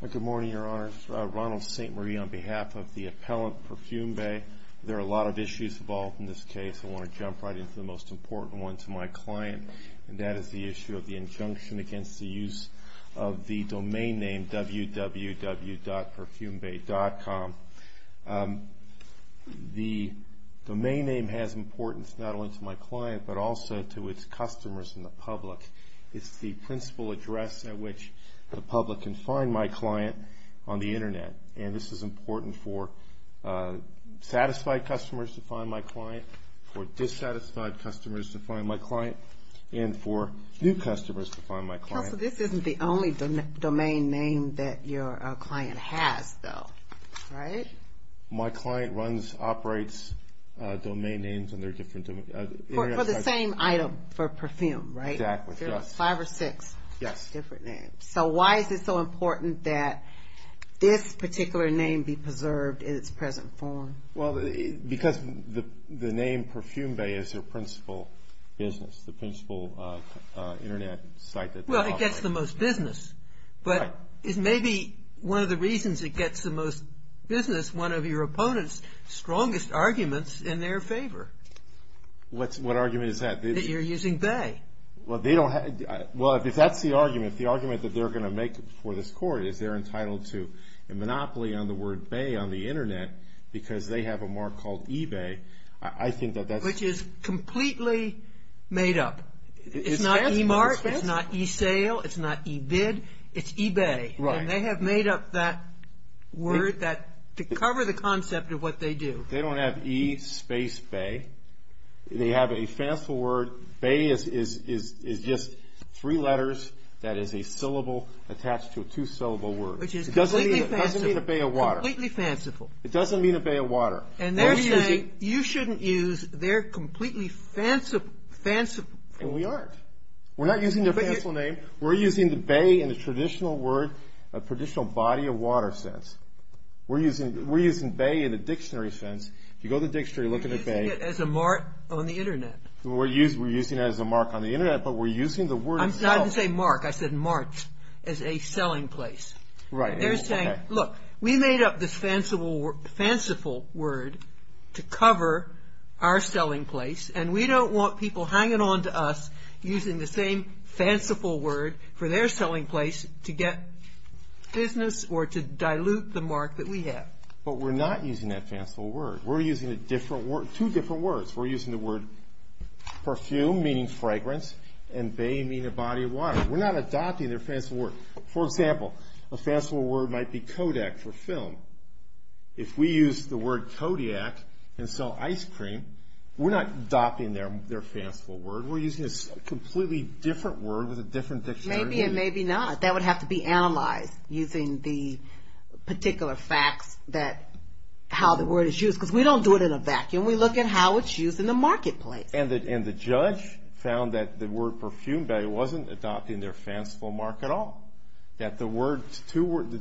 Good morning, Your Honors. Ronald St. Marie on behalf of the Appellant Perfume Bay. There are a lot of issues involved in this case. I want to jump right into the most important one to my client, and that is the issue of the injunction against the use of the domain name www.perfumebay.com. The domain name has importance not only to my client, but also to its customers and the public. It's the principal address at which the public can find my client on the Internet. And this is important for satisfied customers to find my client, for dissatisfied customers to find my client, and for new customers to find my client. Counsel, this isn't the only domain name that your client has, though, right? My client runs, operates domain names in their different areas. For the same item, for perfume, right? Exactly. There are five or six different names. So why is it so important that this particular name be preserved in its present form? Well, because the name Perfume Bay is their principal business, the principal Internet site that they operate. Well, it gets the most business. Right. But it may be one of the reasons it gets the most business, one of your opponent's strongest arguments in their favor. What argument is that? That you're using Bay. Well, if that's the argument, if the argument that they're going to make for this court is they're entitled to a monopoly on the word Bay on the Internet because they have a mark called eBay, I think that that's... Which is completely made up. It's not eMart, it's not eSale, it's not eBid, it's eBay. Right. And they have made up that word to cover the concept of what they do. They don't have e space bay. They have a fanciful word. Bay is just three letters that is a syllable attached to a two-syllable word. Which is completely fanciful. It doesn't mean a bay of water. Completely fanciful. It doesn't mean a bay of water. And they're saying you shouldn't use their completely fanciful. And we aren't. We're not using their fanciful name. We're using the bay in a traditional word, a traditional body of water sense. We're using bay in a dictionary sense. You go to the dictionary, look at the bay. We're using it as a mark on the Internet. We're using it as a mark on the Internet, but we're using the word itself. I didn't say mark, I said march as a selling place. Right. They're saying, look, we made up this fanciful word to cover our selling place, and we don't want people hanging on to us using the same fanciful word for their selling place to get business or to dilute the mark that we have. But we're not using that fanciful word. We're using two different words. We're using the word perfume, meaning fragrance, and bay meaning a body of water. We're not adopting their fanciful word. For example, a fanciful word might be Kodak for film. If we use the word Kodiak and sell ice cream, we're not adopting their fanciful word. We're using a completely different word with a different dictionary meaning. Maybe and maybe not. That would have to be analyzed using the particular facts that how the word is used, because we don't do it in a vacuum. We look at how it's used in the marketplace. And the judge found that the word perfume bay wasn't adopting their fanciful mark at all, that the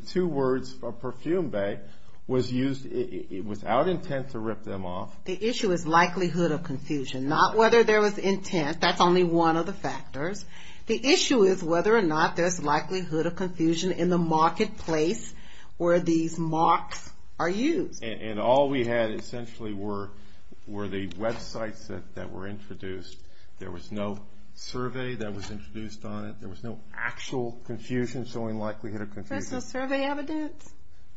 two words for perfume bay was used without intent to rip them off. The issue is likelihood of confusion, not whether there was intent. That's only one of the factors. The issue is whether or not there's likelihood of confusion in the marketplace where these marks are used. And all we had essentially were the websites that were introduced. There was no survey that was introduced on it. There was no actual confusion showing likelihood of confusion. There was no survey evidence.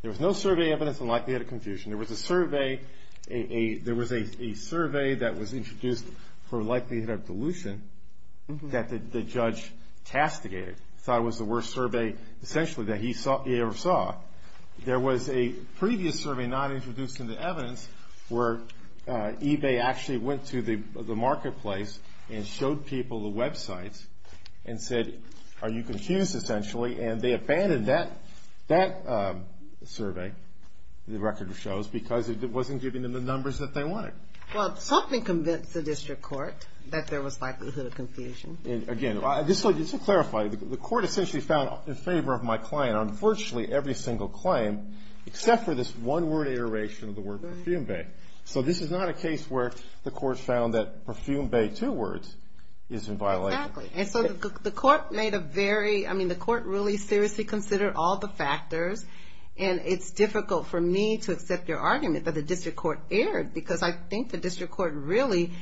There was no survey evidence on likelihood of confusion. There was a survey that was introduced for likelihood of dilution that the judge castigated, thought it was the worst survey essentially that he ever saw. There was a previous survey not introduced in the evidence where eBay actually went to the marketplace and showed people the websites and said, are you confused essentially? And they abandoned that survey, the record shows, because it wasn't giving them the numbers that they wanted. Well, something convinced the district court that there was likelihood of confusion. And again, just to clarify, the court essentially found in favor of my client on virtually every single claim except for this one-word iteration of the word perfume bay. So this is not a case where the court found that perfume bay two words is in violation. Exactly. And so the court made a very, I mean, the court really seriously considered all the factors. And it's difficult for me to accept your argument that the district court erred, because I think the district court really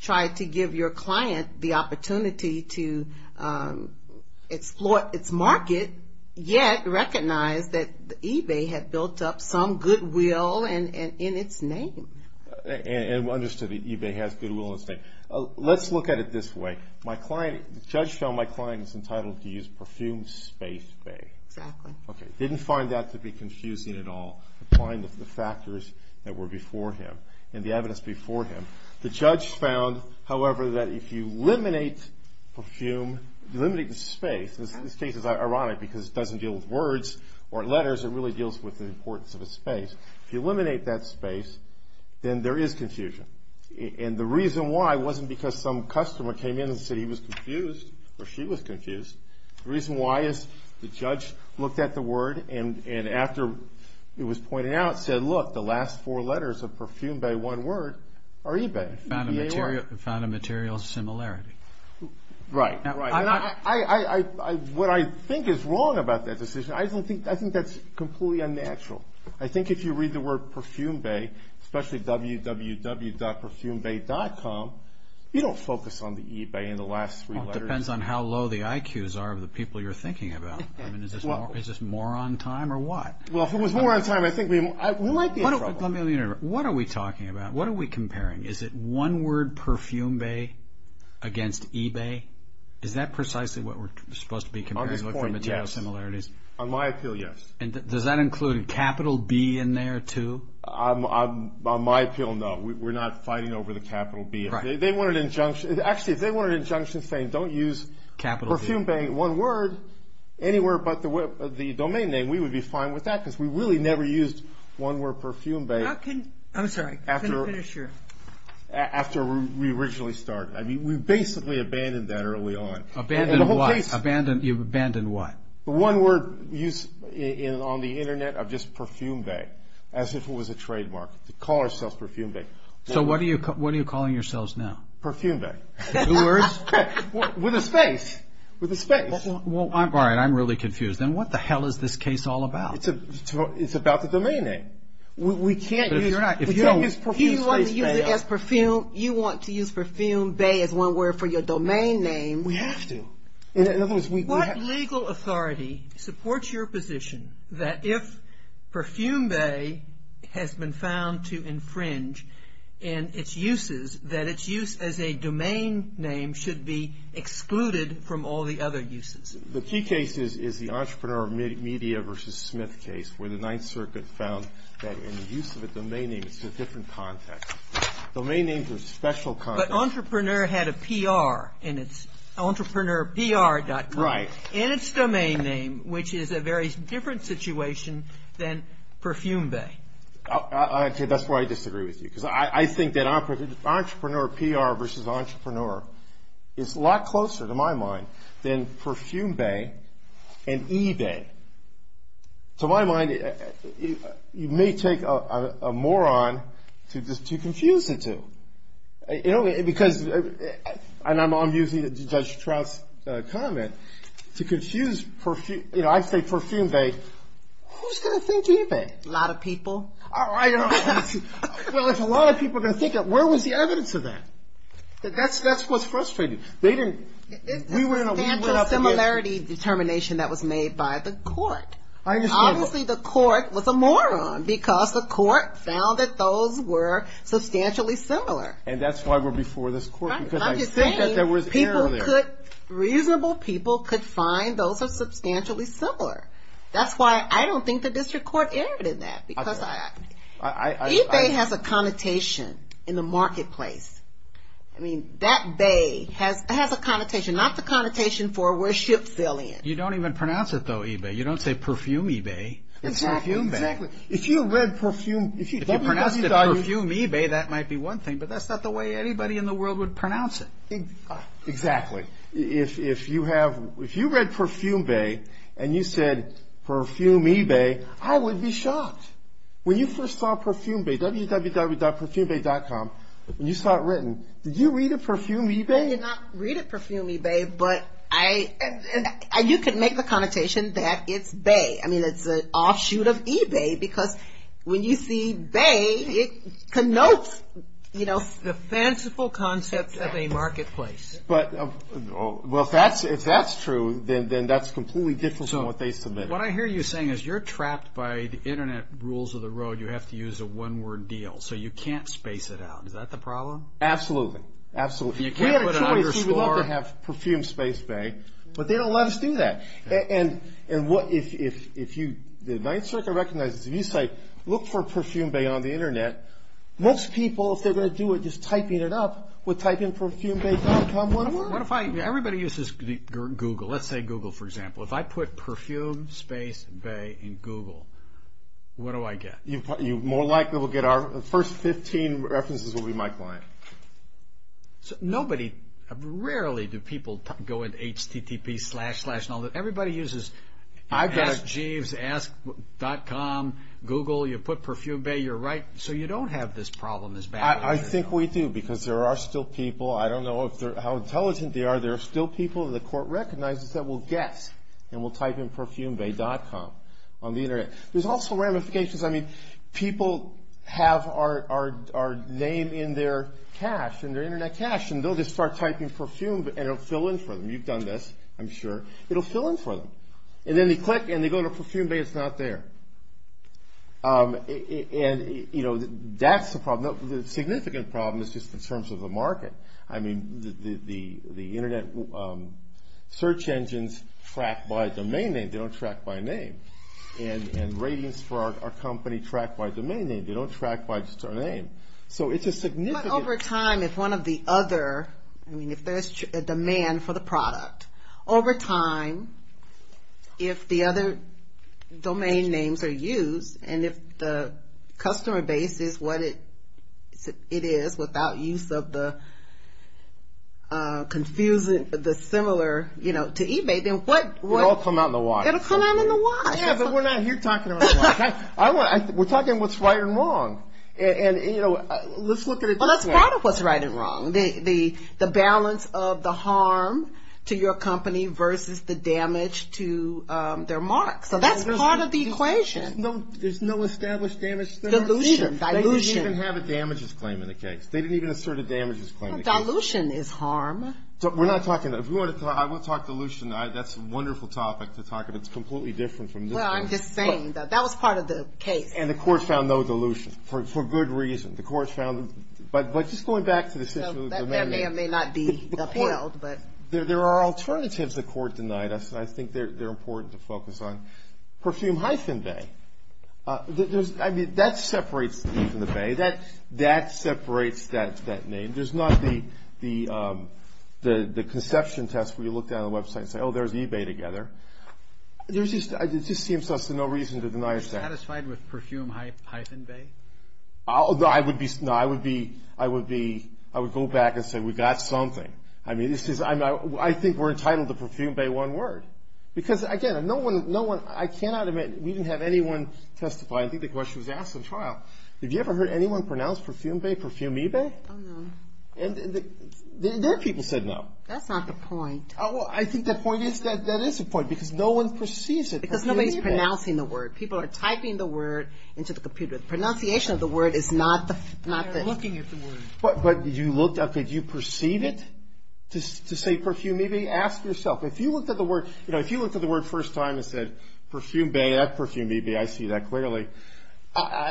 tried to give your client the opportunity to exploit its market, yet recognize that eBay had built up some goodwill in its name. And understood that eBay has goodwill in its name. Let's look at it this way. My client, the judge found my client was entitled to use perfume space bay. Exactly. Okay. Didn't find that to be confusing at all, applying the factors that were before him and the evidence before him. The judge found, however, that if you eliminate perfume, eliminate the space, and this case is ironic because it doesn't deal with words or letters. It really deals with the importance of a space. If you eliminate that space, then there is confusion. And the reason why wasn't because some customer came in and said he was confused or she was confused. The reason why is the judge looked at the word and after it was pointed out said, look, the last four letters of perfume bay, one word, are eBay. Found a material similarity. Right. What I think is wrong about that decision, I think that's completely unnatural. I think if you read the word perfume bay, especially www.perfumebay.com, you don't focus on the eBay and the last three letters. It depends on how low the IQs are of the people you're thinking about. I mean, is this more on time or what? Well, if it was more on time, I think we might be in trouble. Let me interrupt. What are we talking about? What are we comparing? Is it one word, perfume bay, against eBay? Is that precisely what we're supposed to be comparing for material similarities? On this point, yes. On my appeal, yes. And does that include a capital B in there, too? On my appeal, no. We're not fighting over the capital B. Actually, if they want an injunction saying don't use perfume bay, one word, anywhere but the domain name, we would be fine with that because we really never used one word perfume bay after we originally started. I mean, we basically abandoned that early on. Abandoned what? You've abandoned what? One word used on the Internet of just perfume bay as if it was a trademark, to call ourselves perfume bay. So what are you calling yourselves now? Perfume bay. Two words? With a space. With a space. All right. I'm really confused. Then what the hell is this case all about? It's about the domain name. We can't use perfume space bay. You want to use perfume bay as one word for your domain name. We have to. In other words, we have to. supports your position that if perfume bay has been found to infringe in its uses, that its use as a domain name should be excluded from all the other uses. The key case is the entrepreneur media versus Smith case where the Ninth Circuit found that in the use of a domain name, it's a different context. Domain names are special contexts. But entrepreneur had a PR, and it's entrepreneurpr.com. Right. In its domain name, which is a very different situation than perfume bay. That's why I disagree with you. Because I think that entrepreneur, PR versus entrepreneur, is a lot closer to my mind than perfume bay and eBay. To my mind, you may take a moron to confuse it to. Because, and I'm using Judge Trout's comment, to confuse, you know, I say perfume bay. Who's going to think eBay? A lot of people. All right. Well, if a lot of people are going to think it, where was the evidence of that? That's what's frustrating. We went up against. It's a substantial similarity determination that was made by the court. Obviously, the court was a moron because the court found that those were substantially similar. And that's why we're before this court, because I think that there was error there. I'm just saying reasonable people could find those are substantially similar. That's why I don't think the district court erred in that. Because eBay has a connotation in the marketplace. I mean, that bay has a connotation. Not the connotation for where ships sail in. You don't even pronounce it, though, eBay. You don't say perfume eBay. It's perfume bay. Exactly. If you read perfume. If you pronounced it perfume eBay, that might be one thing. But that's not the way anybody in the world would pronounce it. Exactly. If you read perfume bay and you said perfume eBay, I would be shocked. When you first saw perfume bay, www.perfumebay.com, when you saw it written, did you read it perfume eBay? I did not read it perfume eBay, but you could make the connotation that it's bay. I mean, it's an offshoot of eBay because when you see bay, it connotes the fanciful concept of a marketplace. Well, if that's true, then that's completely different from what they submitted. What I hear you saying is you're trapped by the Internet rules of the road. You have to use a one-word deal, so you can't space it out. Is that the problem? Absolutely. Absolutely. We had a choice. We'd love to have perfume space bay, but they don't let us do that. If the United States recognizes a new site, look for perfume bay on the Internet. Most people, if they're going to do it just typing it up, would type in perfumebay.com. Everybody uses Google. Let's say Google, for example. If I put perfume space bay in Google, what do I get? You more likely will get our first 15 references will be my client. Rarely do people go into HTTP, slash, slash, and all that. Everybody uses Ask Jeeves, Ask.com, Google. You put perfume bay, you're right. So you don't have this problem as badly. I think we do because there are still people. I don't know how intelligent they are. There are still people that the court recognizes that will guess and will type in perfumebay.com on the Internet. There's also ramifications. People have our name in their Internet cache, and they'll just start typing perfume, and it'll fill in for them. You've done this, I'm sure. It'll fill in for them. Then they click, and they go to perfume bay. It's not there. That's the problem. The significant problem is just in terms of the market. The Internet search engines track by domain name. They don't track by name. And ratings for our company track by domain name. They don't track by just our name. So it's a significant… But over time, if one of the other, I mean, if there's a demand for the product, over time, if the other domain names are used, and if the customer base is what it is without use of the similar to eBay, then what… It'll all come out in the wash. It'll come out in the wash. Yeah, but we're not here talking about the wash. We're talking about what's right and wrong. And, you know, let's look at it this way. Well, that's part of what's right and wrong. The balance of the harm to your company versus the damage to their mark. So that's part of the equation. There's no established damage? Dilution. They didn't even have a damages claim in the case. They didn't even assert a damages claim in the case. Dilution is harm. We're not talking that. I will talk dilution. That's a wonderful topic to talk about. It's completely different from this case. Well, I'm just saying that. That was part of the case. And the court found no dilution for good reason. The court found… But just going back to the… So that may or may not be upheld, but… There are alternatives the court denied us, and I think they're important to focus on. Perfume-Bay. I mean, that separates me from the Bay. That separates that name. There's not the conception test where you look down on the website and say, oh, there's eBay together. It just seems to us there's no reason to deny us that. Are you satisfied with Perfume-Bay? No, I would go back and say we got something. I mean, I think we're entitled to Perfume-Bay one word. Because, again, I cannot admit we didn't have anyone testify. I think the question was asked in trial. Have you ever heard anyone pronounce Perfume-Bay, Perfume-Ebay? Oh, no. And their people said no. That's not the point. I think the point is that that is the point, because no one perceives it. Because nobody's pronouncing the word. People are typing the word into the computer. The pronunciation of the word is not the… They're looking at the word. But you looked up, did you perceive it to say Perfume-Ebay? Ask yourself. If you looked at the word first time and said Perfume-Bay, that's Perfume-Ebay. I see that clearly.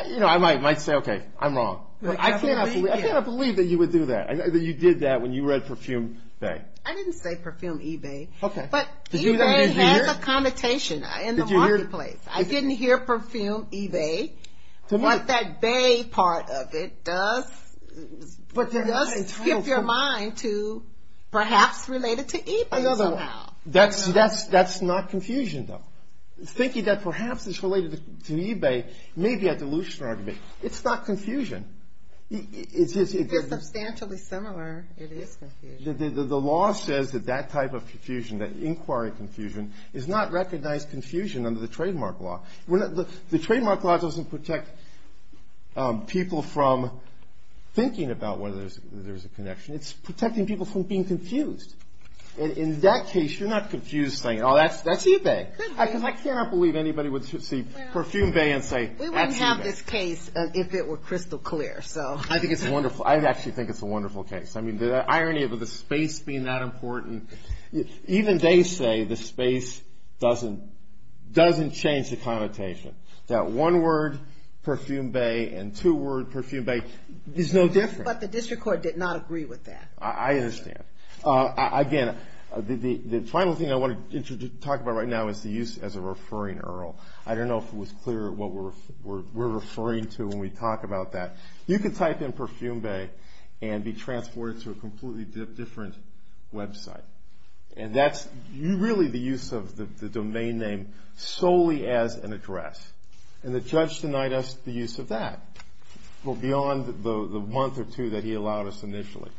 You know, I might say, okay, I'm wrong. I cannot believe that you would do that, that you did that when you read Perfume-Bay. I didn't say Perfume-Ebay. Okay. But Ebay has a connotation in the marketplace. I didn't hear Perfume-Ebay. But that bay part of it does skip your mind to perhaps related to eBay somehow. That's not confusion, though. Thinking that perhaps it's related to eBay may be a delusional argument. It's not confusion. If it's substantially similar, it is confusion. The law says that that type of confusion, that inquiry confusion, is not recognized confusion under the trademark law. The trademark law doesn't protect people from thinking about whether there's a connection. It's protecting people from being confused. In that case, you're not confused saying, oh, that's eBay. Because I cannot believe anybody would see Perfume-Bay and say, that's eBay. We wouldn't have this case if it were crystal clear. I think it's wonderful. I actually think it's a wonderful case. I mean, the irony of the space being that important. Even they say the space doesn't change the connotation. That one word, Perfume-Bay, and two words, Perfume-Bay, is no different. But the district court did not agree with that. I understand. Again, the final thing I want to talk about right now is the use as a referring URL. I don't know if it was clear what we're referring to when we talk about that. You can type in Perfume-Bay and be transported to a completely different website. And that's really the use of the domain name solely as an address. And the judge denied us the use of that. Well, beyond the month or two that he allowed us initially.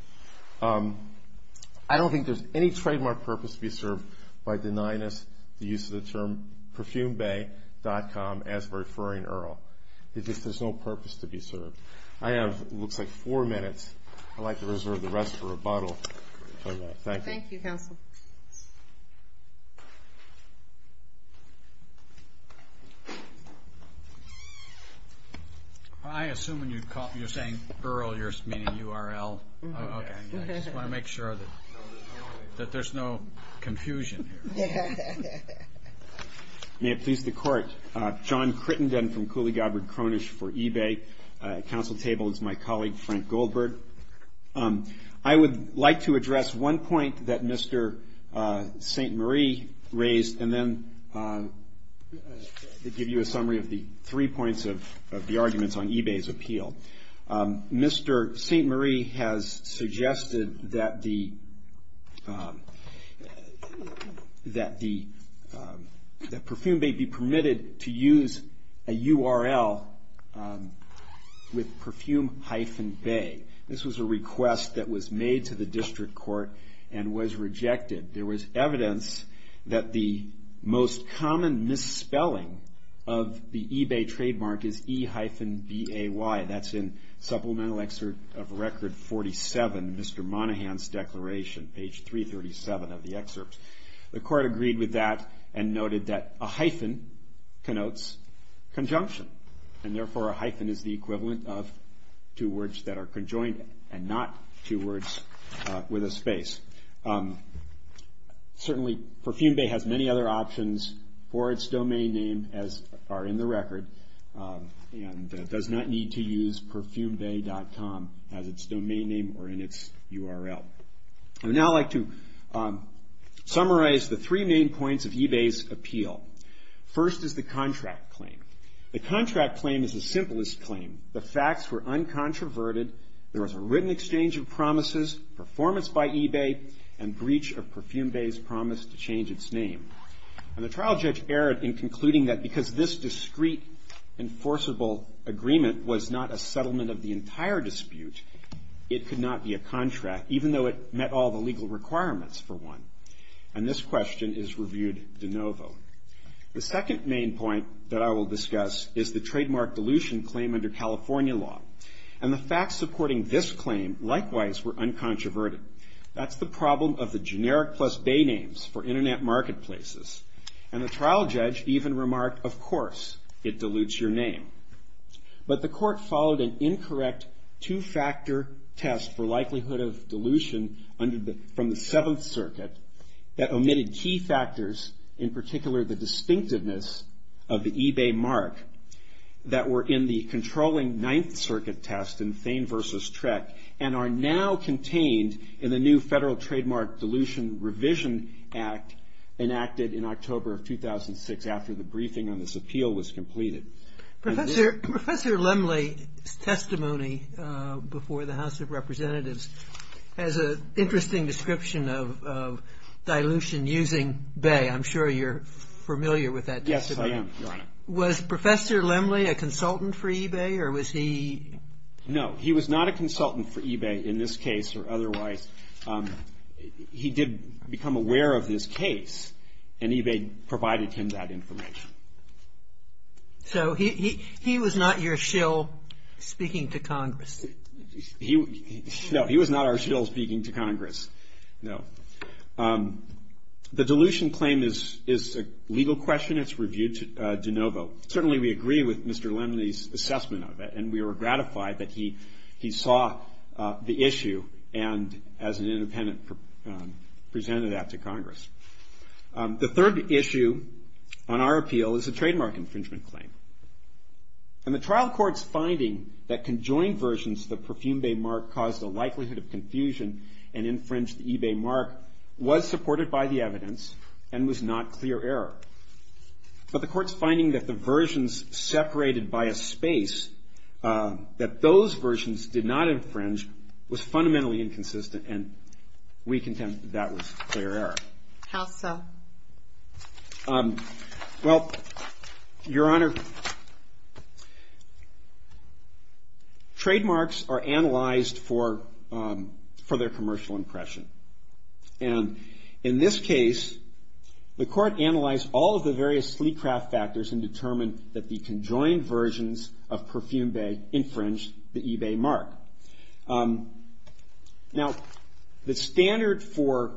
I don't think there's any trademark purpose to be served by denying us the use of the term Perfume-Bay.com as referring URL. There's no purpose to be served. I have what looks like four minutes. I'd like to reserve the rest for rebuttal. Thank you. Thank you, counsel. Thank you. I assume when you're saying URL, you're meaning URL. Okay. I just want to make sure that there's no confusion here. May it please the court. John Crittenden from Cooley Godward Cronish for eBay. Counsel table is my colleague, Frank Goldberg. I would like to address one point that Mr. St. Marie raised and then give you a summary of the three points of the arguments on eBay's appeal. Mr. St. Marie has suggested that Perfume may be permitted to use a URL with Perfume-Bay. This was a request that was made to the district court and was rejected. There was evidence that the most common misspelling of the eBay trademark is E-B-A-Y. That's in Supplemental Excerpt of Record 47, Mr. Monahan's declaration, page 337 of the excerpt. The court agreed with that and noted that a hyphen connotes conjunction and therefore a hyphen is the equivalent of two words that are conjoined and not two words with a space. Certainly, Perfume-Bay has many other options for its domain name as are in the record and does not need to use Perfume-Bay.com as its domain name or in its URL. I would now like to summarize the three main points of eBay's appeal. First is the contract claim. The contract claim is the simplest claim. The facts were uncontroverted. There was a written exchange of promises, performance by eBay, and breach of Perfume-Bay's promise to change its name. And the trial judge erred in concluding that because this discrete enforceable agreement was not a settlement of the entire dispute, it could not be a contract, even though it met all the legal requirements for one. And this question is reviewed de novo. The second main point that I will discuss is the trademark dilution claim under California law. And the facts supporting this claim likewise were uncontroverted. That's the problem of the generic plus bay names for Internet marketplaces. And the trial judge even remarked, of course, it dilutes your name. But the court followed an incorrect two-factor test for likelihood of dilution from the Seventh Circuit that omitted key factors, in particular the distinctiveness of the eBay mark that were in the controlling Ninth Circuit test in Thane v. Trek and are now contained in the new Federal Trademark Dilution Revision Act enacted in October of 2006 after the briefing on this appeal was completed. Professor Lemley's testimony before the House of Representatives has an interesting description of dilution using bay. I'm sure you're familiar with that testimony. Yes, I am, Your Honor. Was Professor Lemley a consultant for eBay or was he? No, he was not a consultant for eBay in this case or otherwise. He did become aware of this case and eBay provided him that information. So he was not your shill speaking to Congress? No, he was not our shill speaking to Congress, no. The dilution claim is a legal question. It's reviewed de novo. Certainly, we agree with Mr. Lemley's assessment of it, and we are gratified that he saw the issue and, as an independent, presented that to Congress. The third issue on our appeal is a trademark infringement claim, and the trial court's finding that conjoined versions of the Perfume Bay mark caused a likelihood of confusion and infringed the eBay mark was supported by the evidence and was not clear error. But the court's finding that the versions separated by a space, that those versions did not infringe, was fundamentally inconsistent, and we contend that that was clear error. How so? Well, Your Honor, trademarks are analyzed for their commercial impression. And in this case, the court analyzed all of the various sleet craft factors and determined that the conjoined versions of Perfume Bay infringed the eBay mark. Now, the standard for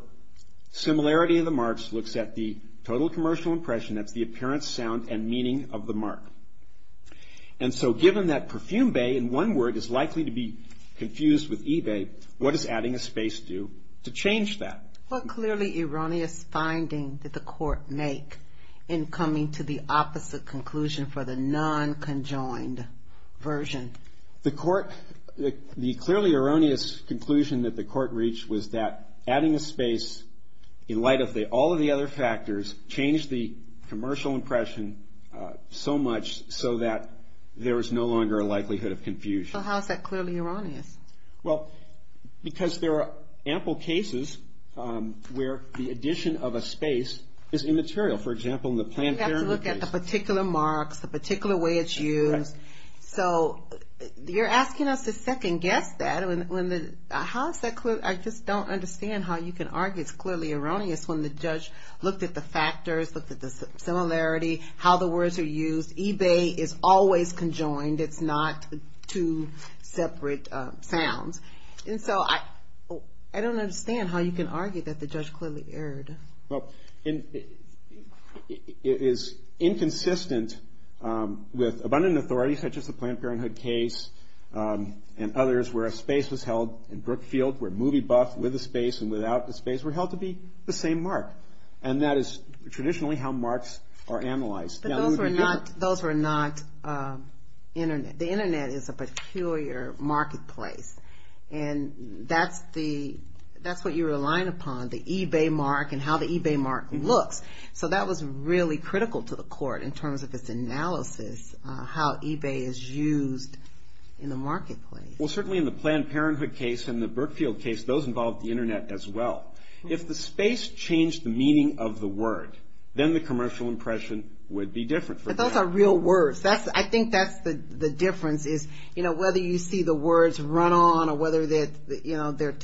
similarity of the marks looks at the total commercial impression. That's the appearance, sound, and meaning of the mark. And so, given that Perfume Bay, in one word, is likely to be confused with eBay, what does adding a space do to change that? What clearly erroneous finding did the court make in coming to the opposite conclusion for the non-conjoined version? The court, the clearly erroneous conclusion that the court reached was that adding a space in light of all of the other factors changed the commercial impression so much so that there was no longer a likelihood of confusion. So how is that clearly erroneous? Well, because there are ample cases where the addition of a space is immaterial. For example, in the Planned Parenthood case. You have to look at the particular marks, the particular way it's used. So you're asking us to second-guess that. How is that clear? I just don't understand how you can argue it's clearly erroneous when the judge looked at the factors, looked at the similarity, how the words are used. eBay is always conjoined. It's not two separate sounds. And so I don't understand how you can argue that the judge clearly erred. Well, it is inconsistent with abundant authority, such as the Planned Parenthood case and others, where a space was held in Brookfield, where movie buff with a space and without a space were held to be the same mark. And that is traditionally how marks are analyzed. But those were not Internet. The Internet is a peculiar marketplace. And that's what you rely upon, the eBay mark and how the eBay mark looks. So that was really critical to the court in terms of its analysis, how eBay is used in the marketplace. Well, certainly in the Planned Parenthood case and the Brookfield case, those involved the Internet as well. If the space changed the meaning of the word, then the commercial impression would be different. But those are real words. I think that's the difference is whether you see the words run on or whether they're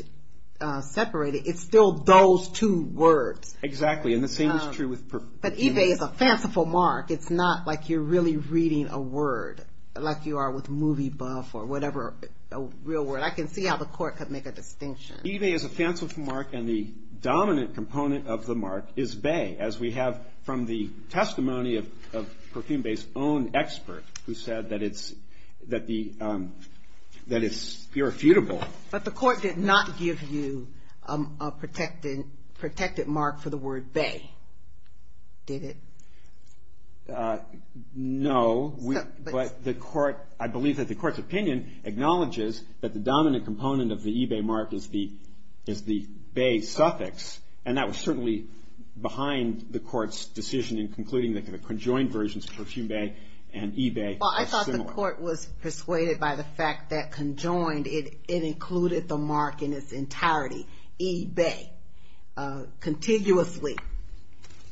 separated. It's still those two words. Exactly. And the same is true with... But eBay is a fanciful mark. It's not like you're really reading a word like you are with movie buff or whatever real word. I can see how the court could make a distinction. eBay is a fanciful mark, and the dominant component of the mark is bay, as we have from the testimony of Perfume Bay's own expert, who said that it's irrefutable. But the court did not give you a protected mark for the word bay, did it? No. But I believe that the court's opinion acknowledges that the dominant component of the eBay mark is the bay suffix, and that was certainly behind the court's decision in concluding that the conjoined versions of Perfume Bay and eBay are similar. Well, I thought the court was persuaded by the fact that conjoined, it included the mark in its entirety, eBay, contiguously,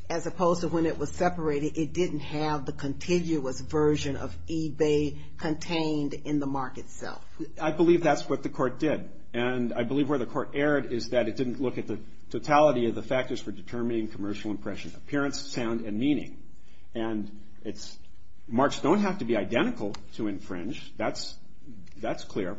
as opposed to when it was separated, it didn't have the contiguous version of eBay contained in the mark itself. I believe that's what the court did. And I believe where the court erred is that it didn't look at the totality of the factors for determining commercial impression, appearance, sound, and meaning. And marks don't have to be identical to infringe. That's clear.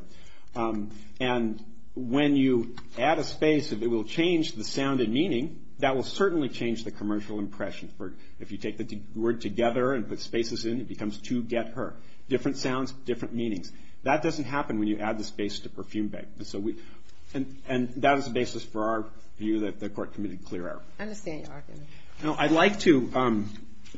And when you add a space, if it will change the sound and meaning, that will certainly change the commercial impression. If you take the word together and put spaces in, it becomes to get her. Different sounds, different meanings. That doesn't happen when you add the space to Perfume Bay. And that is the basis for our view that the court committed clear error. I understand your argument. I'd like to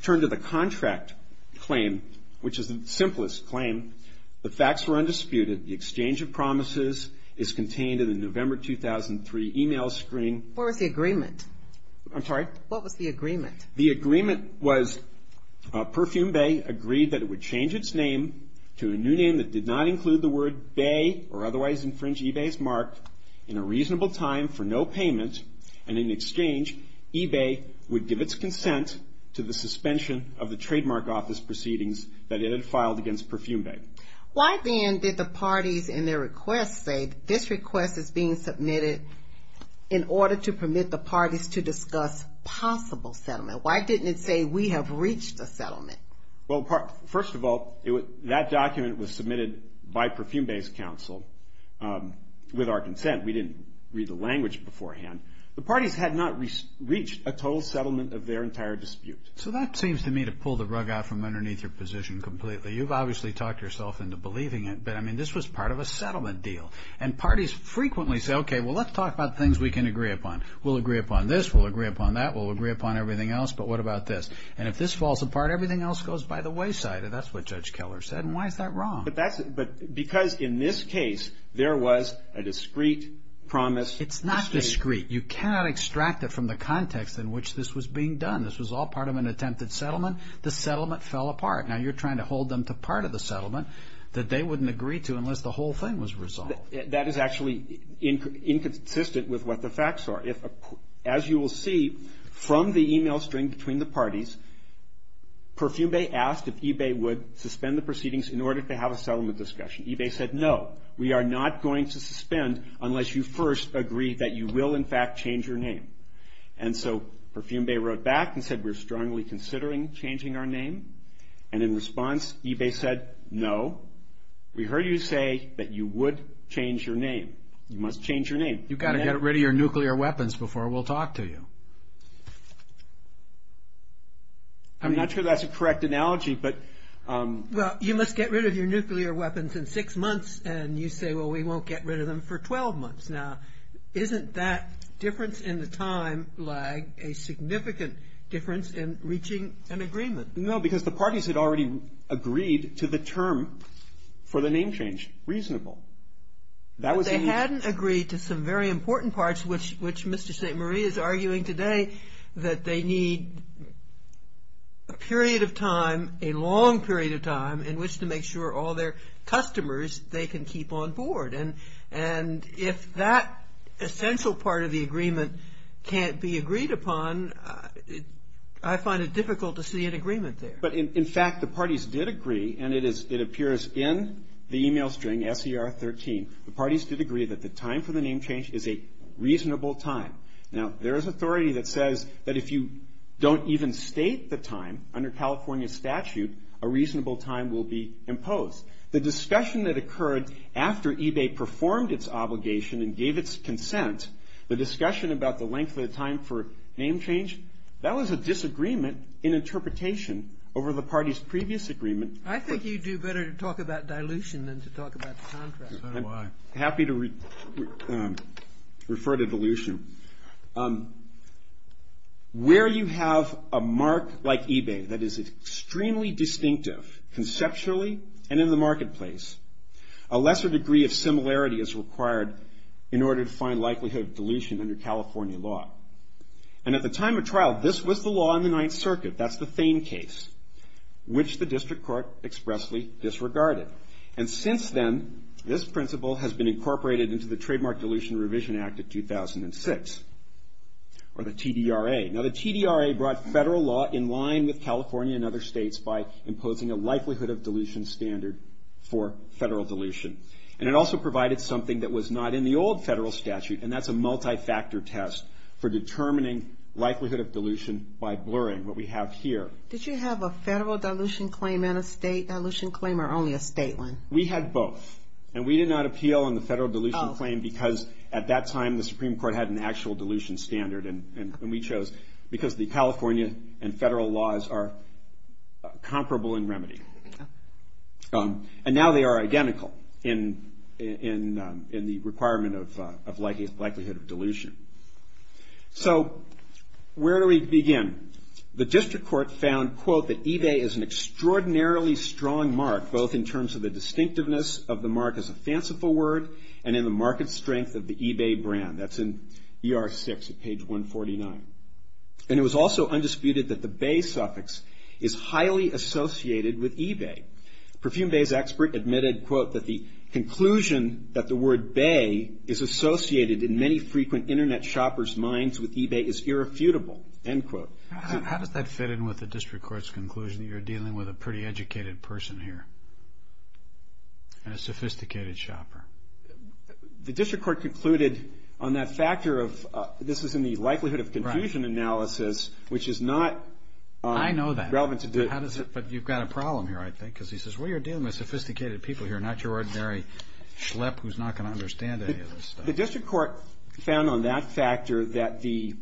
turn to the contract claim, which is the simplest claim. The facts were undisputed. The exchange of promises is contained in the November 2003 email screen. What was the agreement? I'm sorry? What was the agreement? The agreement was Perfume Bay agreed that it would change its name to a new name that did not include the word bay or otherwise infringe eBay's mark in a reasonable time for no payment. And in exchange, eBay would give its consent to the suspension of the trademark office proceedings that it had filed against Perfume Bay. Why then did the parties in their request say this request is being submitted in order to permit the parties to discuss possible settlement? Why didn't it say we have reached a settlement? Well, first of all, that document was submitted by Perfume Bay's counsel with our consent. We didn't read the language beforehand. The parties had not reached a total settlement of their entire dispute. So that seems to me to pull the rug out from underneath your position completely. You've obviously talked yourself into believing it, but, I mean, this was part of a settlement deal. And parties frequently say, okay, well, let's talk about things we can agree upon. We'll agree upon this, we'll agree upon that, we'll agree upon everything else, but what about this? And if this falls apart, everything else goes by the wayside. That's what Judge Keller said. And why is that wrong? Because in this case, there was a discreet promise. It's not discreet. You cannot extract it from the context in which this was being done. This was all part of an attempted settlement. The settlement fell apart. Now you're trying to hold them to part of the settlement that they wouldn't agree to unless the whole thing was resolved. That is actually inconsistent with what the facts are. As you will see from the email string between the parties, Perfume Bay asked if eBay would suspend the proceedings in order to have a settlement discussion. eBay said, no, we are not going to suspend unless you first agree that you will, in fact, change your name. And so Perfume Bay wrote back and said, we're strongly considering changing our name. And in response, eBay said, no, we heard you say that you would change your name. You must change your name. You've got to get rid of your nuclear weapons before we'll talk to you. I'm not sure that's a correct analogy, but. Well, you must get rid of your nuclear weapons in six months. And you say, well, we won't get rid of them for 12 months. Now, isn't that difference in the time lag a significant difference in reaching an agreement? No, because the parties had already agreed to the term for the name change. Reasonable. They hadn't agreed to some very important parts, which Mr. St. Marie is arguing today, that they need a period of time, a long period of time, in which to make sure all their customers, they can keep on board. And if that essential part of the agreement can't be agreed upon, I find it difficult to see an agreement there. But, in fact, the parties did agree, and it appears in the e-mail string, S.E.R. 13. The parties did agree that the time for the name change is a reasonable time. Now, there is authority that says that if you don't even state the time under California statute, a reasonable time will be imposed. The discussion that occurred after eBay performed its obligation and gave its consent, the discussion about the length of the time for name change, that was a disagreement in interpretation over the party's previous agreement. I think you'd do better to talk about dilution than to talk about contrast. I'm happy to refer to dilution. Where you have a mark like eBay that is extremely distinctive conceptually and in the marketplace, a lesser degree of similarity is required in order to find likelihood of dilution under California law. And at the time of trial, this was the law in the Ninth Circuit. That's the Thane case, which the district court expressly disregarded. And since then, this principle has been incorporated into the Trademark Dilution Revision Act of 2006, or the TDRA. Now, the TDRA brought federal law in line with California and other states by imposing a likelihood of dilution standard for federal dilution. And it also provided something that was not in the old federal statute, and that's a multi-factor test for determining likelihood of dilution by blurring what we have here. Did you have a federal dilution claim and a state dilution claim, or only a state one? We had both. And we did not appeal on the federal dilution claim because at that time, the Supreme Court had an actual dilution standard. And we chose because the California and federal laws are comparable in remedy. And now they are identical in the requirement of likelihood of dilution. So where do we begin? The district court found, quote, that eBay is an extraordinarily strong mark, both in terms of the distinctiveness of the mark as a fanciful word and in the market strength of the eBay brand. That's in ER6 at page 149. And it was also undisputed that the bay suffix is highly associated with eBay. Perfume Bay's expert admitted, quote, that the conclusion that the word bay is associated in many frequent Internet shoppers' minds with eBay is irrefutable, end quote. How does that fit in with the district court's conclusion that you're dealing with a pretty educated person here and a sophisticated shopper? The district court concluded on that factor of this is in the likelihood of confusion analysis, which is not relevant to this. I know that. But you've got a problem here, I think, because he says, well, you're dealing with sophisticated people here, not your ordinary schlep who's not going to understand any of this stuff. The district court found on that factor that the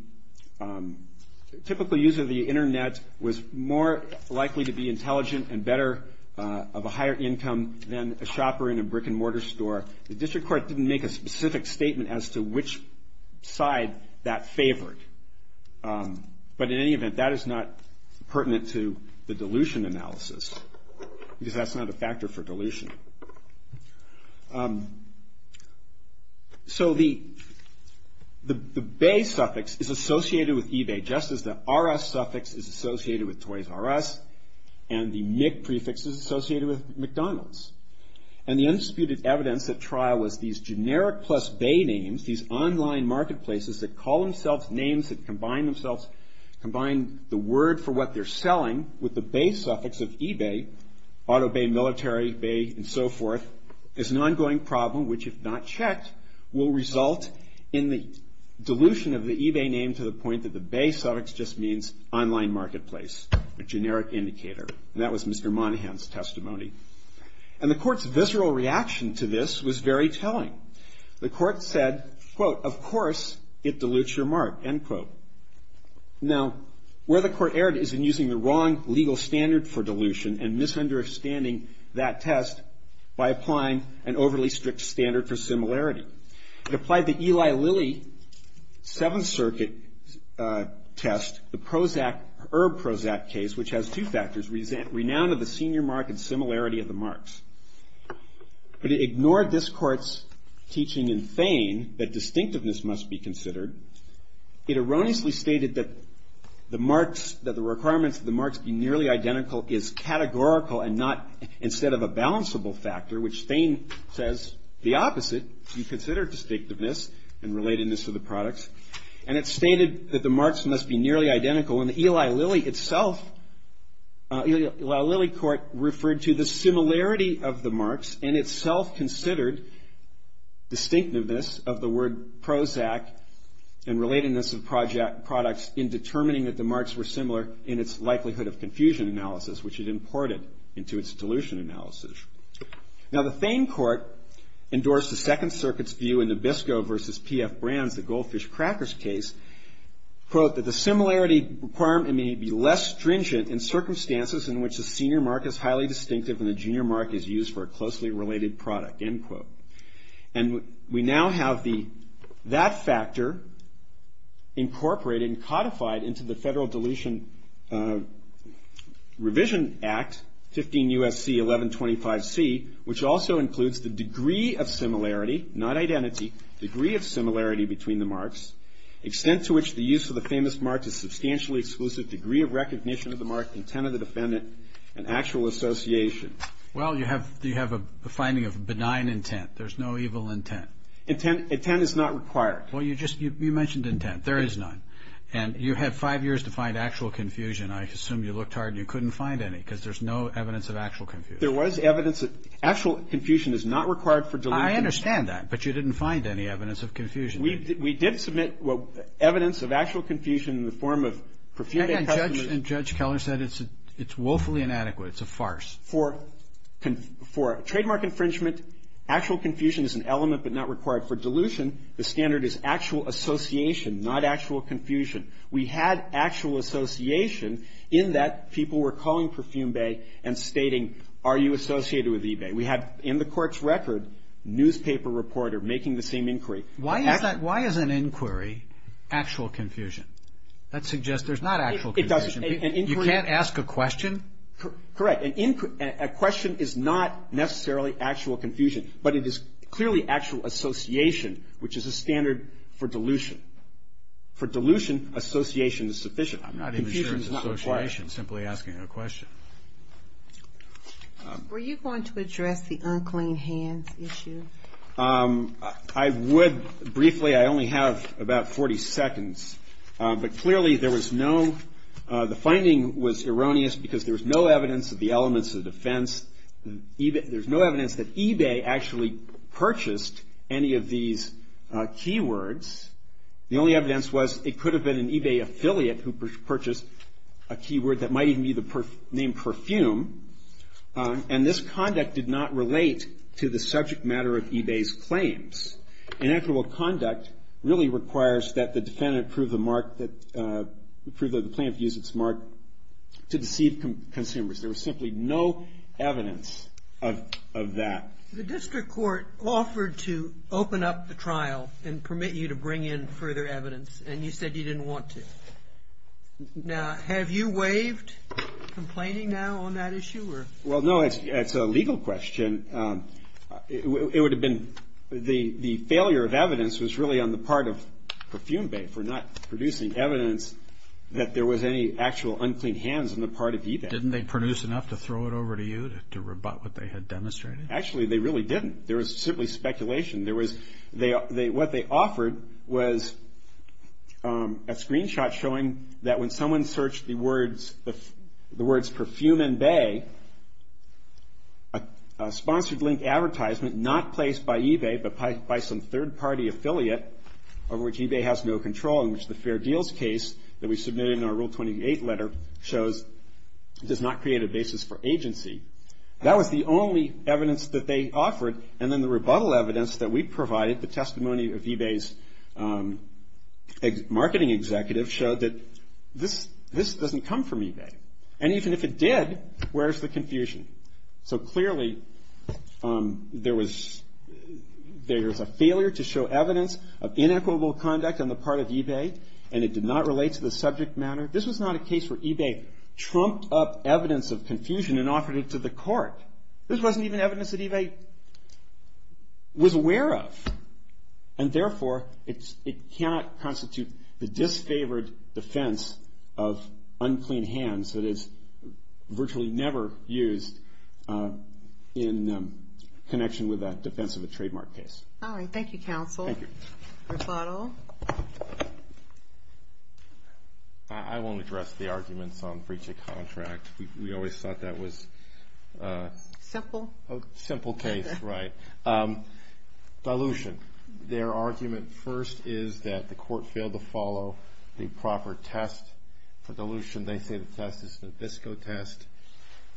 typical user of the Internet was more likely to be intelligent and better of a higher income than a shopper in a brick-and-mortar store. The district court didn't make a specific statement as to which side that favored. But in any event, that is not pertinent to the dilution analysis because that's not a factor for dilution. So the bay suffix is associated with eBay just as the RS suffix is associated with Toys R Us and the Mc prefix is associated with McDonald's. And the undisputed evidence at trial was these generic plus bay names, these online marketplaces that call themselves names that combine the word for what they're selling with the bay suffix of eBay, auto bay, military bay, and so forth, is an ongoing problem which, if not checked, will result in the dilution of the eBay name to the point that the bay suffix just means online marketplace, a generic indicator, and that was Mr. Monahan's testimony. And the court's visceral reaction to this was very telling. The court said, quote, of course it dilutes your mark, end quote. Now, where the court erred is in using the wrong legal standard for dilution and misunderstanding that test by applying an overly strict standard for similarity. It applied the Eli Lilly Seventh Circuit test, the Prozac, Herb Prozac case, which has two factors, renown of the senior mark and similarity of the marks. But it ignored this court's teaching in Thain that distinctiveness must be considered. It erroneously stated that the marks, that the requirements of the marks be nearly identical is categorical and not instead of a balanceable factor, which Thain says the opposite. You consider distinctiveness and relatedness of the products. And it stated that the marks must be nearly identical. And the Eli Lilly itself, the Eli Lilly court referred to the similarity of the marks and itself considered distinctiveness of the word Prozac and relatedness of products in determining that the marks were similar in its likelihood of confusion analysis, which it imported into its dilution analysis. Now, the Thain court endorsed the Second Circuit's view in Nabisco versus P.F. Brands, the Goldfish Crackers case, quote, that the similarity requirement may be less stringent in circumstances in which the senior mark is highly distinctive and the junior mark is used for a closely related product, end quote. And we now have that factor incorporated and codified into the Federal Dilution Revision Act, 15 U.S.C. 1125C, which also includes the degree of similarity, not identity, degree of similarity between the marks, extent to which the use of the famous mark is substantially exclusive, degree of recognition of the mark, intent of the defendant, and actual association. Well, you have a finding of benign intent. There's no evil intent. Intent is not required. Well, you mentioned intent. There is none. And you had five years to find actual confusion. I assume you looked hard and you couldn't find any because there's no evidence of actual confusion. There was evidence. Actual confusion is not required for dilution. I understand that. But you didn't find any evidence of confusion. We did submit evidence of actual confusion in the form of perfume. And Judge Keller said it's woefully inadequate. It's a farce. For trademark infringement, actual confusion is an element but not required. For dilution, the standard is actual association, not actual confusion. We had actual association in that people were calling Perfume Bay and stating, are you associated with eBay? We had in the court's record, newspaper reporter making the same inquiry. Why is that? Why is an inquiry actual confusion? That suggests there's not actual confusion. It doesn't. You can't ask a question? Correct. A question is not necessarily actual confusion. But it is clearly actual association, which is a standard for dilution. For dilution, association is sufficient. I'm not interested in association, simply asking a question. Were you going to address the unclean hands issue? I would briefly. I only have about 40 seconds. But clearly there was no the finding was erroneous because there was no evidence of the elements of defense. There's no evidence that eBay actually purchased any of these keywords. The only evidence was it could have been an eBay affiliate who purchased a keyword that might even be named Perfume. And this conduct did not relate to the subject matter of eBay's claims. Inequitable conduct really requires that the defendant prove the mark, prove that the plaintiff used its mark to deceive consumers. There was simply no evidence of that. The district court offered to open up the trial and permit you to bring in further evidence. And you said you didn't want to. Now, have you waived complaining now on that issue? Well, no. It's a legal question. It would have been the failure of evidence was really on the part of Perfume Bay for not producing evidence that there was any actual unclean hands on the part of eBay. Didn't they produce enough to throw it over to you to rebut what they had demonstrated? Actually, they really didn't. There was simply speculation. What they offered was a screenshot showing that when someone searched the words Perfume and Bay, a sponsored link advertisement not placed by eBay, but by some third-party affiliate of which eBay has no control, in which the Fair Deals case that we submitted in our Rule 28 letter shows does not create a basis for agency. That was the only evidence that they offered. And then the rebuttal evidence that we provided, the testimony of eBay's marketing executive, showed that this doesn't come from eBay. And even if it did, where's the confusion? So clearly, there was a failure to show evidence of inequitable conduct on the part of eBay, and it did not relate to the subject matter. This was not a case where eBay trumped up evidence of confusion and offered it to the court. This wasn't even evidence that eBay was aware of. And therefore, it cannot constitute the disfavored defense of unclean hands that is virtually never used in connection with that defense of a trademark case. All right. Thank you, counsel. Thank you. Rusato? I won't address the arguments on breach of contract. We always thought that was a simple case, right. Dilution. They say the test is a Nabisco test.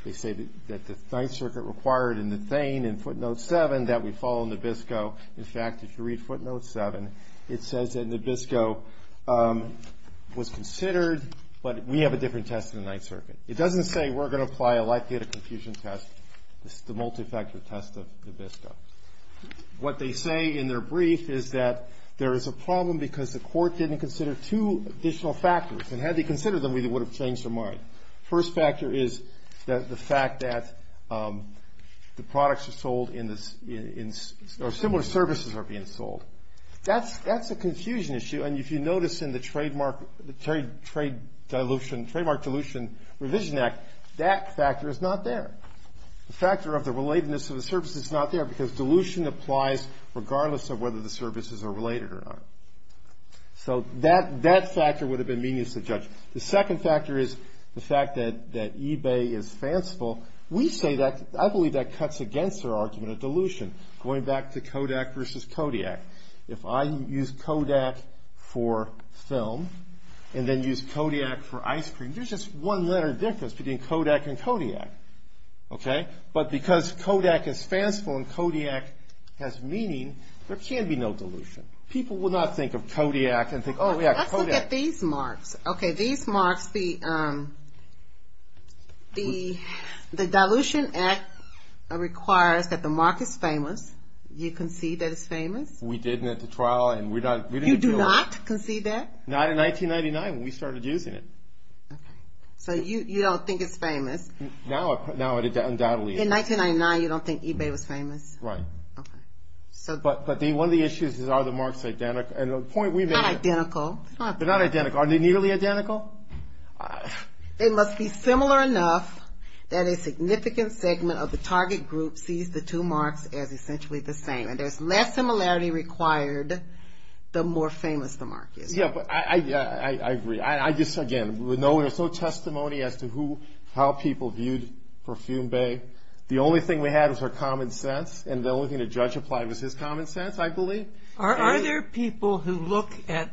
They say that the Ninth Circuit required in the Thane in footnote 7 that we follow Nabisco. In fact, if you read footnote 7, it says that Nabisco was considered, but we have a different test than the Ninth Circuit. It doesn't say we're going to apply a life-data confusion test. This is the multifactor test of Nabisco. What they say in their brief is that there is a problem because the court didn't consider two additional factors. And had they considered them, we would have changed our mind. First factor is the fact that the products are sold in this or similar services are being sold. That's a confusion issue, and if you notice in the Trademark Dilution Revision Act, that factor is not there. The factor of the relatedness of the services is not there because dilution applies regardless of whether the services are related or not. So that factor would have been meaningless to judge. The second factor is the fact that eBay is fanciful. We say that. I believe that cuts against their argument of dilution. Going back to Kodak versus Kodiak, if I use Kodak for film and then use Kodiak for ice cream, there's just one letter difference between Kodak and Kodiak, okay? But because Kodak is fanciful and Kodiak has meaning, there can be no dilution. People will not think of Kodiak and think, oh, yeah, Kodiak. Let's look at these marks. Okay, these marks, the Dilution Act requires that the mark is famous. Do you concede that it's famous? We did at the trial, and we're not going to do it. You do not concede that? Not in 1999 when we started using it. Okay. So you don't think it's famous? Now, undoubtedly. In 1999, you don't think eBay was famous? Right. Okay. But one of the issues is, are the marks identical? Not identical. They're not identical. Are they nearly identical? They must be similar enough that a significant segment of the target group sees the two marks as essentially the same. And there's less similarity required the more famous the mark is. Yeah, but I agree. I just, again, we know there's no testimony as to how people viewed Perfume Bay. The only thing we had was our common sense, and the only thing the judge applied was his common sense, I believe. Are there people who look at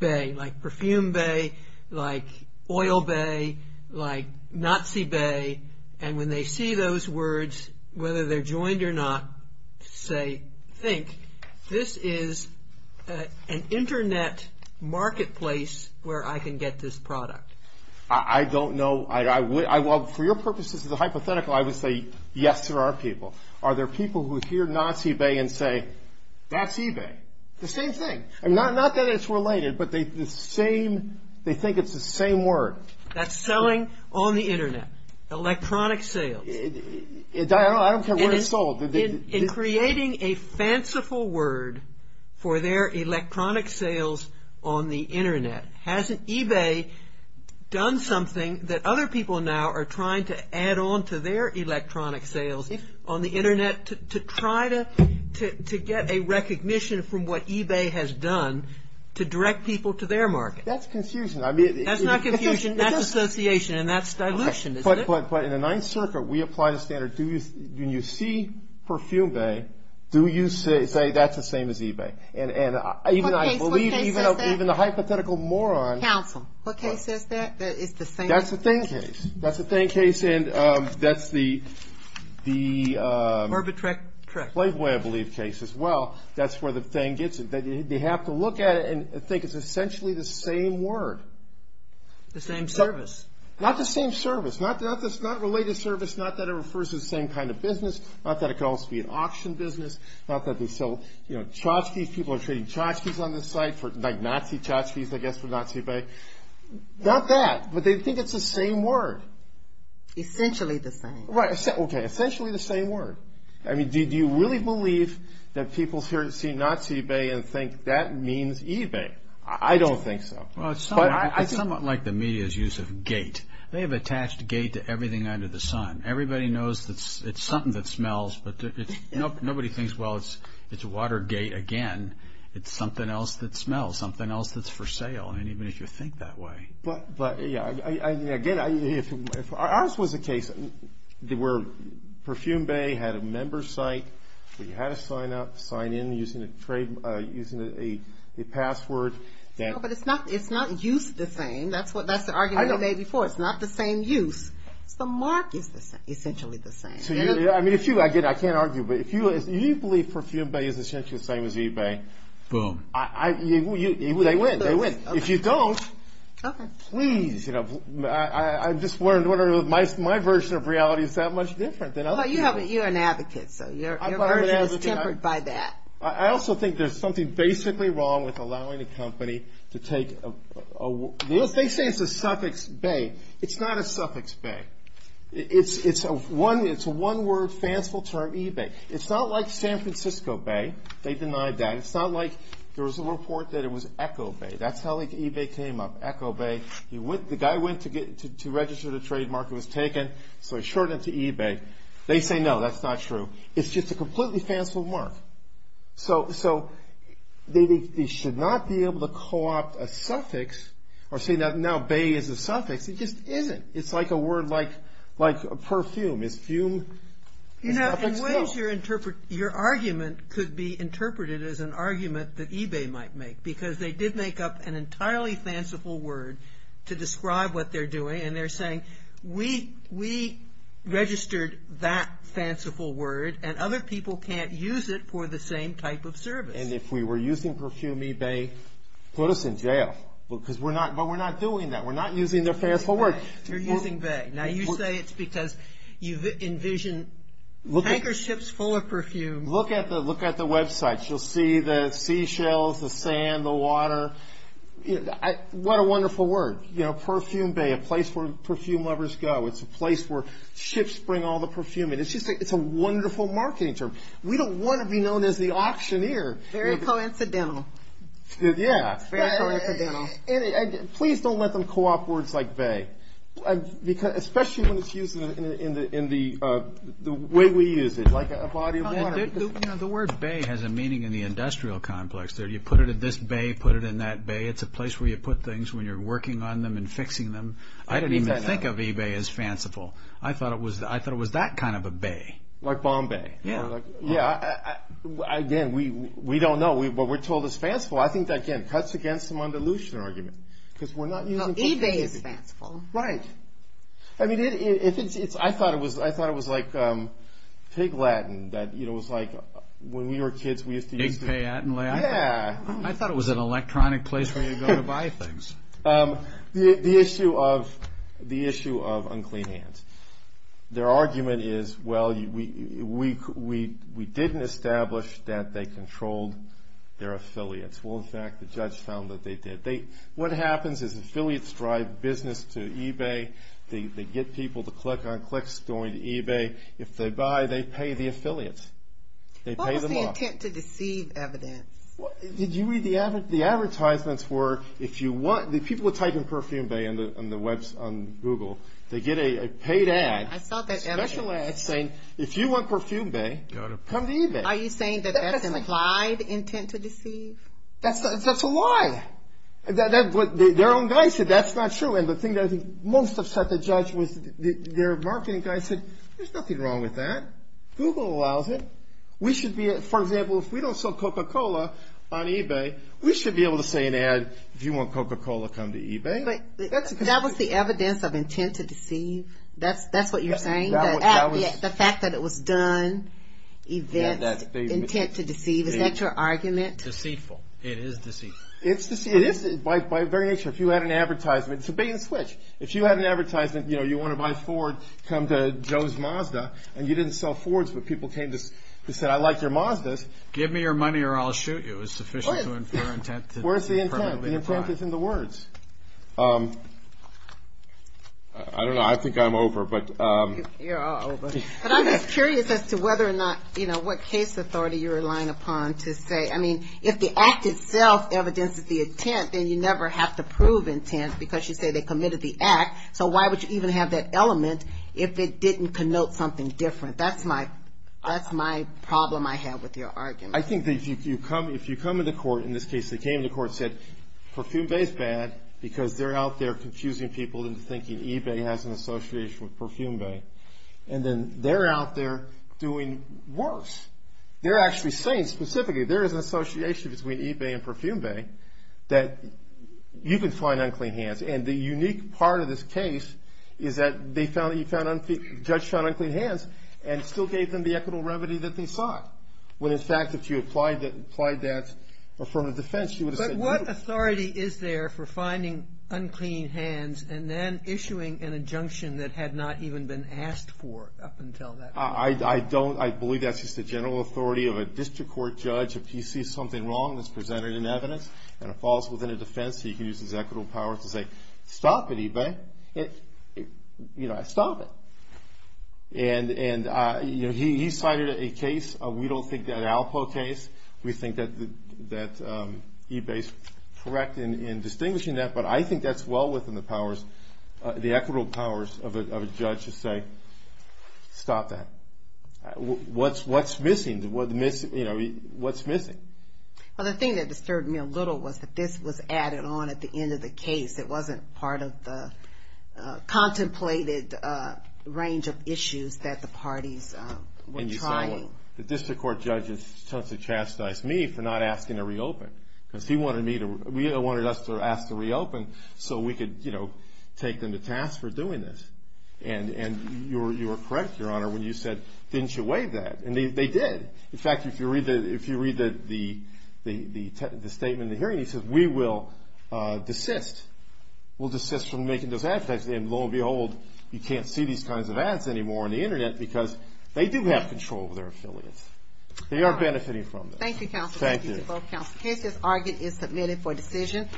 Bay, like Perfume Bay, like Oil Bay, like Nazi Bay, and when they see those words, whether they're joined or not, say, think, this is an Internet marketplace where I can get this product? I don't know. For your purposes as a hypothetical, I would say, yes, there are people. Are there people who hear Nazi Bay and say, that's eBay? The same thing. Not that it's related, but they think it's the same word. That's selling on the Internet. Electronic sales. I don't care where it's sold. In creating a fanciful word for their electronic sales on the Internet, hasn't eBay done something that other people now are trying to add on to their electronic sales on the Internet to try to get a recognition from what eBay has done to direct people to their market? That's confusion. That's not confusion. That's association, and that's dilution, isn't it? But in the Ninth Circuit, we apply the standard. When you see Perfume Bay, do you say, that's the same as eBay? What case says that? Even the hypothetical moron. Counsel. What case says that, that it's the same? That's the thing case. That's the thing case, and that's the… Herbert Trick. Playboy, I believe, case as well. That's where the thing gets it. They have to look at it and think it's essentially the same word. The same service. Not the same service. Not related service. Not that it refers to the same kind of business. Not that it could also be an auction business. Not that they sell tchotchkes. People are trading tchotchkes on this site, like Nazi tchotchkes, I guess, for Nazi Bay. Not that, but they think it's the same word. Essentially the same. Okay, essentially the same word. I mean, do you really believe that people see Nazi Bay and think that means eBay? I don't think so. Well, it's somewhat like the media's use of gate. They have attached gate to everything under the sun. Everybody knows it's something that smells, but nobody thinks, well, it's Watergate again. It's something else that smells, something else that's for sale, and even if you think that way. But, yeah, again, if ours was a case where Perfume Bay had a member site where you had to sign up, sign in using a password. No, but it's not used the same. That's the argument we made before. It's not the same use. The mark is essentially the same. I mean, if you, again, I can't argue, but if you believe Perfume Bay is essentially the same as eBay. Boom. They win. They win. If you don't, please. My version of reality is that much different than other people. Well, you're an advocate, so your version is tempered by that. I also think there's something basically wrong with allowing a company to take a, they say it's a suffix bay. It's not a suffix bay. It's a one-word, fanciful term, eBay. It's not like San Francisco Bay. They denied that. It's not like there was a report that it was Echo Bay. That's how eBay came up, Echo Bay. The guy went to register the trademark. It was taken, so he showed it to eBay. They say, no, that's not true. It's just a completely fanciful mark. So they should not be able to co-opt a suffix or say now bay is a suffix. It just isn't. It's like a word like perfume. Is fume a suffix? No. You know, in ways your argument could be interpreted as an argument that eBay might make because they did make up an entirely fanciful word to describe what they're doing, and they're saying we registered that fanciful word, and other people can't use it for the same type of service. And if we were using perfume, eBay put us in jail because we're not doing that. We're not using their fanciful word. You're using bay. Now, you say it's because you envision tanker ships full of perfume. Look at the websites. You'll see the seashells, the sand, the water. What a wonderful word. You know, perfume bay, a place where perfume lovers go. It's a place where ships bring all the perfume in. It's a wonderful marketing term. We don't want to be known as the auctioneer. Very coincidental. Yeah. Very coincidental. And please don't let them co-opt words like bay, especially when it's used in the way we use it, like a body of water. The word bay has a meaning in the industrial complex. You put it in this bay, put it in that bay. It's a place where you put things when you're working on them and fixing them. I didn't even think of eBay as fanciful. I thought it was that kind of a bay. Like Bombay. Yeah. Again, we don't know. But we're told it's fanciful. I think that, again, cuts against some undilutionary argument because we're not using it. No, eBay is fanciful. Right. I mean, I thought it was like Pig Latin that, you know, it was like when we were kids we used to use to do. Big Pay Latin. Yeah. I thought it was an electronic place where you go to buy things. The issue of unclean hands. Their argument is, well, we didn't establish that they controlled their affiliates. Well, in fact, the judge found that they did. What happens is affiliates drive business to eBay. They get people to click on clicks going to eBay. If they buy, they pay the affiliates. They pay them off. What was the intent to deceive evidence? Did you read the advertisements for if you want, the people would type in Perfume Bay on the web, on Google. They get a paid ad. I saw that ad. It's saying, if you want Perfume Bay, come to eBay. Are you saying that that's implied intent to deceive? That's a lie. Their own guy said that's not true. And the thing that I think most upset the judge was their marketing guy said, there's nothing wrong with that. Google allows it. For example, if we don't sell Coca-Cola on eBay, we should be able to say an ad, if you want Coca-Cola, come to eBay. That was the evidence of intent to deceive? That's what you're saying? The fact that it was done, events, intent to deceive, is that your argument? Deceitful. It is deceitful. It's deceitful. By very nature. If you had an advertisement. It's a bait and switch. If you had an advertisement, you want to buy Ford, come to Joe's Mazda, and you didn't sell Fords, but people came to say, I like your Mazdas. Give me your money or I'll shoot you. It's sufficient to infer intent. Where's the intent? The intent is in the words. I don't know. I think I'm over. You're all over. But I'm just curious as to whether or not, you know, what case authority you're relying upon to say, I mean, if the act itself evidences the intent, then you never have to prove intent, because you say they committed the act. So why would you even have that element if it didn't connote something different? That's my problem I have with your argument. I think that if you come to the court, in this case they came to the court and said, Perfume Bay is bad because they're out there confusing people into thinking eBay has an association with Perfume Bay. And then they're out there doing worse. They're actually saying specifically there is an association between eBay and Perfume Bay that you can find unclean hands. And the unique part of this case is that they found unclean hands and still gave them the equitable remedy that they sought. When, in fact, if you applied that from a defense, you would have said no. But what authority is there for finding unclean hands and then issuing an injunction that had not even been asked for up until that point? I don't. I believe that's just the general authority of a district court judge. If you see something wrong that's presented in evidence and it falls within a defense, he can use his equitable power to say, Stop it, eBay. Stop it. And he cited a case. We don't think that Alpo case. We think that eBay is correct in distinguishing that, but I think that's well within the powers, the equitable powers of a judge to say, Stop that. What's missing? Well, the thing that disturbed me a little was that this was added on at the end of the case. It wasn't part of the contemplated range of issues that the parties were trying. And you said the district court judge is supposed to chastise me for not asking to reopen because he wanted us to ask to reopen so we could take them to task for doing this. And you were correct, Your Honor, when you said, Didn't you weigh that? And they did. In fact, if you read the statement in the hearing, it says, We will desist. We'll desist from making those advertisements. And lo and behold, you can't see these kinds of ads anymore on the Internet because they do have control over their affiliates. They are benefiting from this. Thank you, counsel. Thank you. This case is argued and submitted for decision.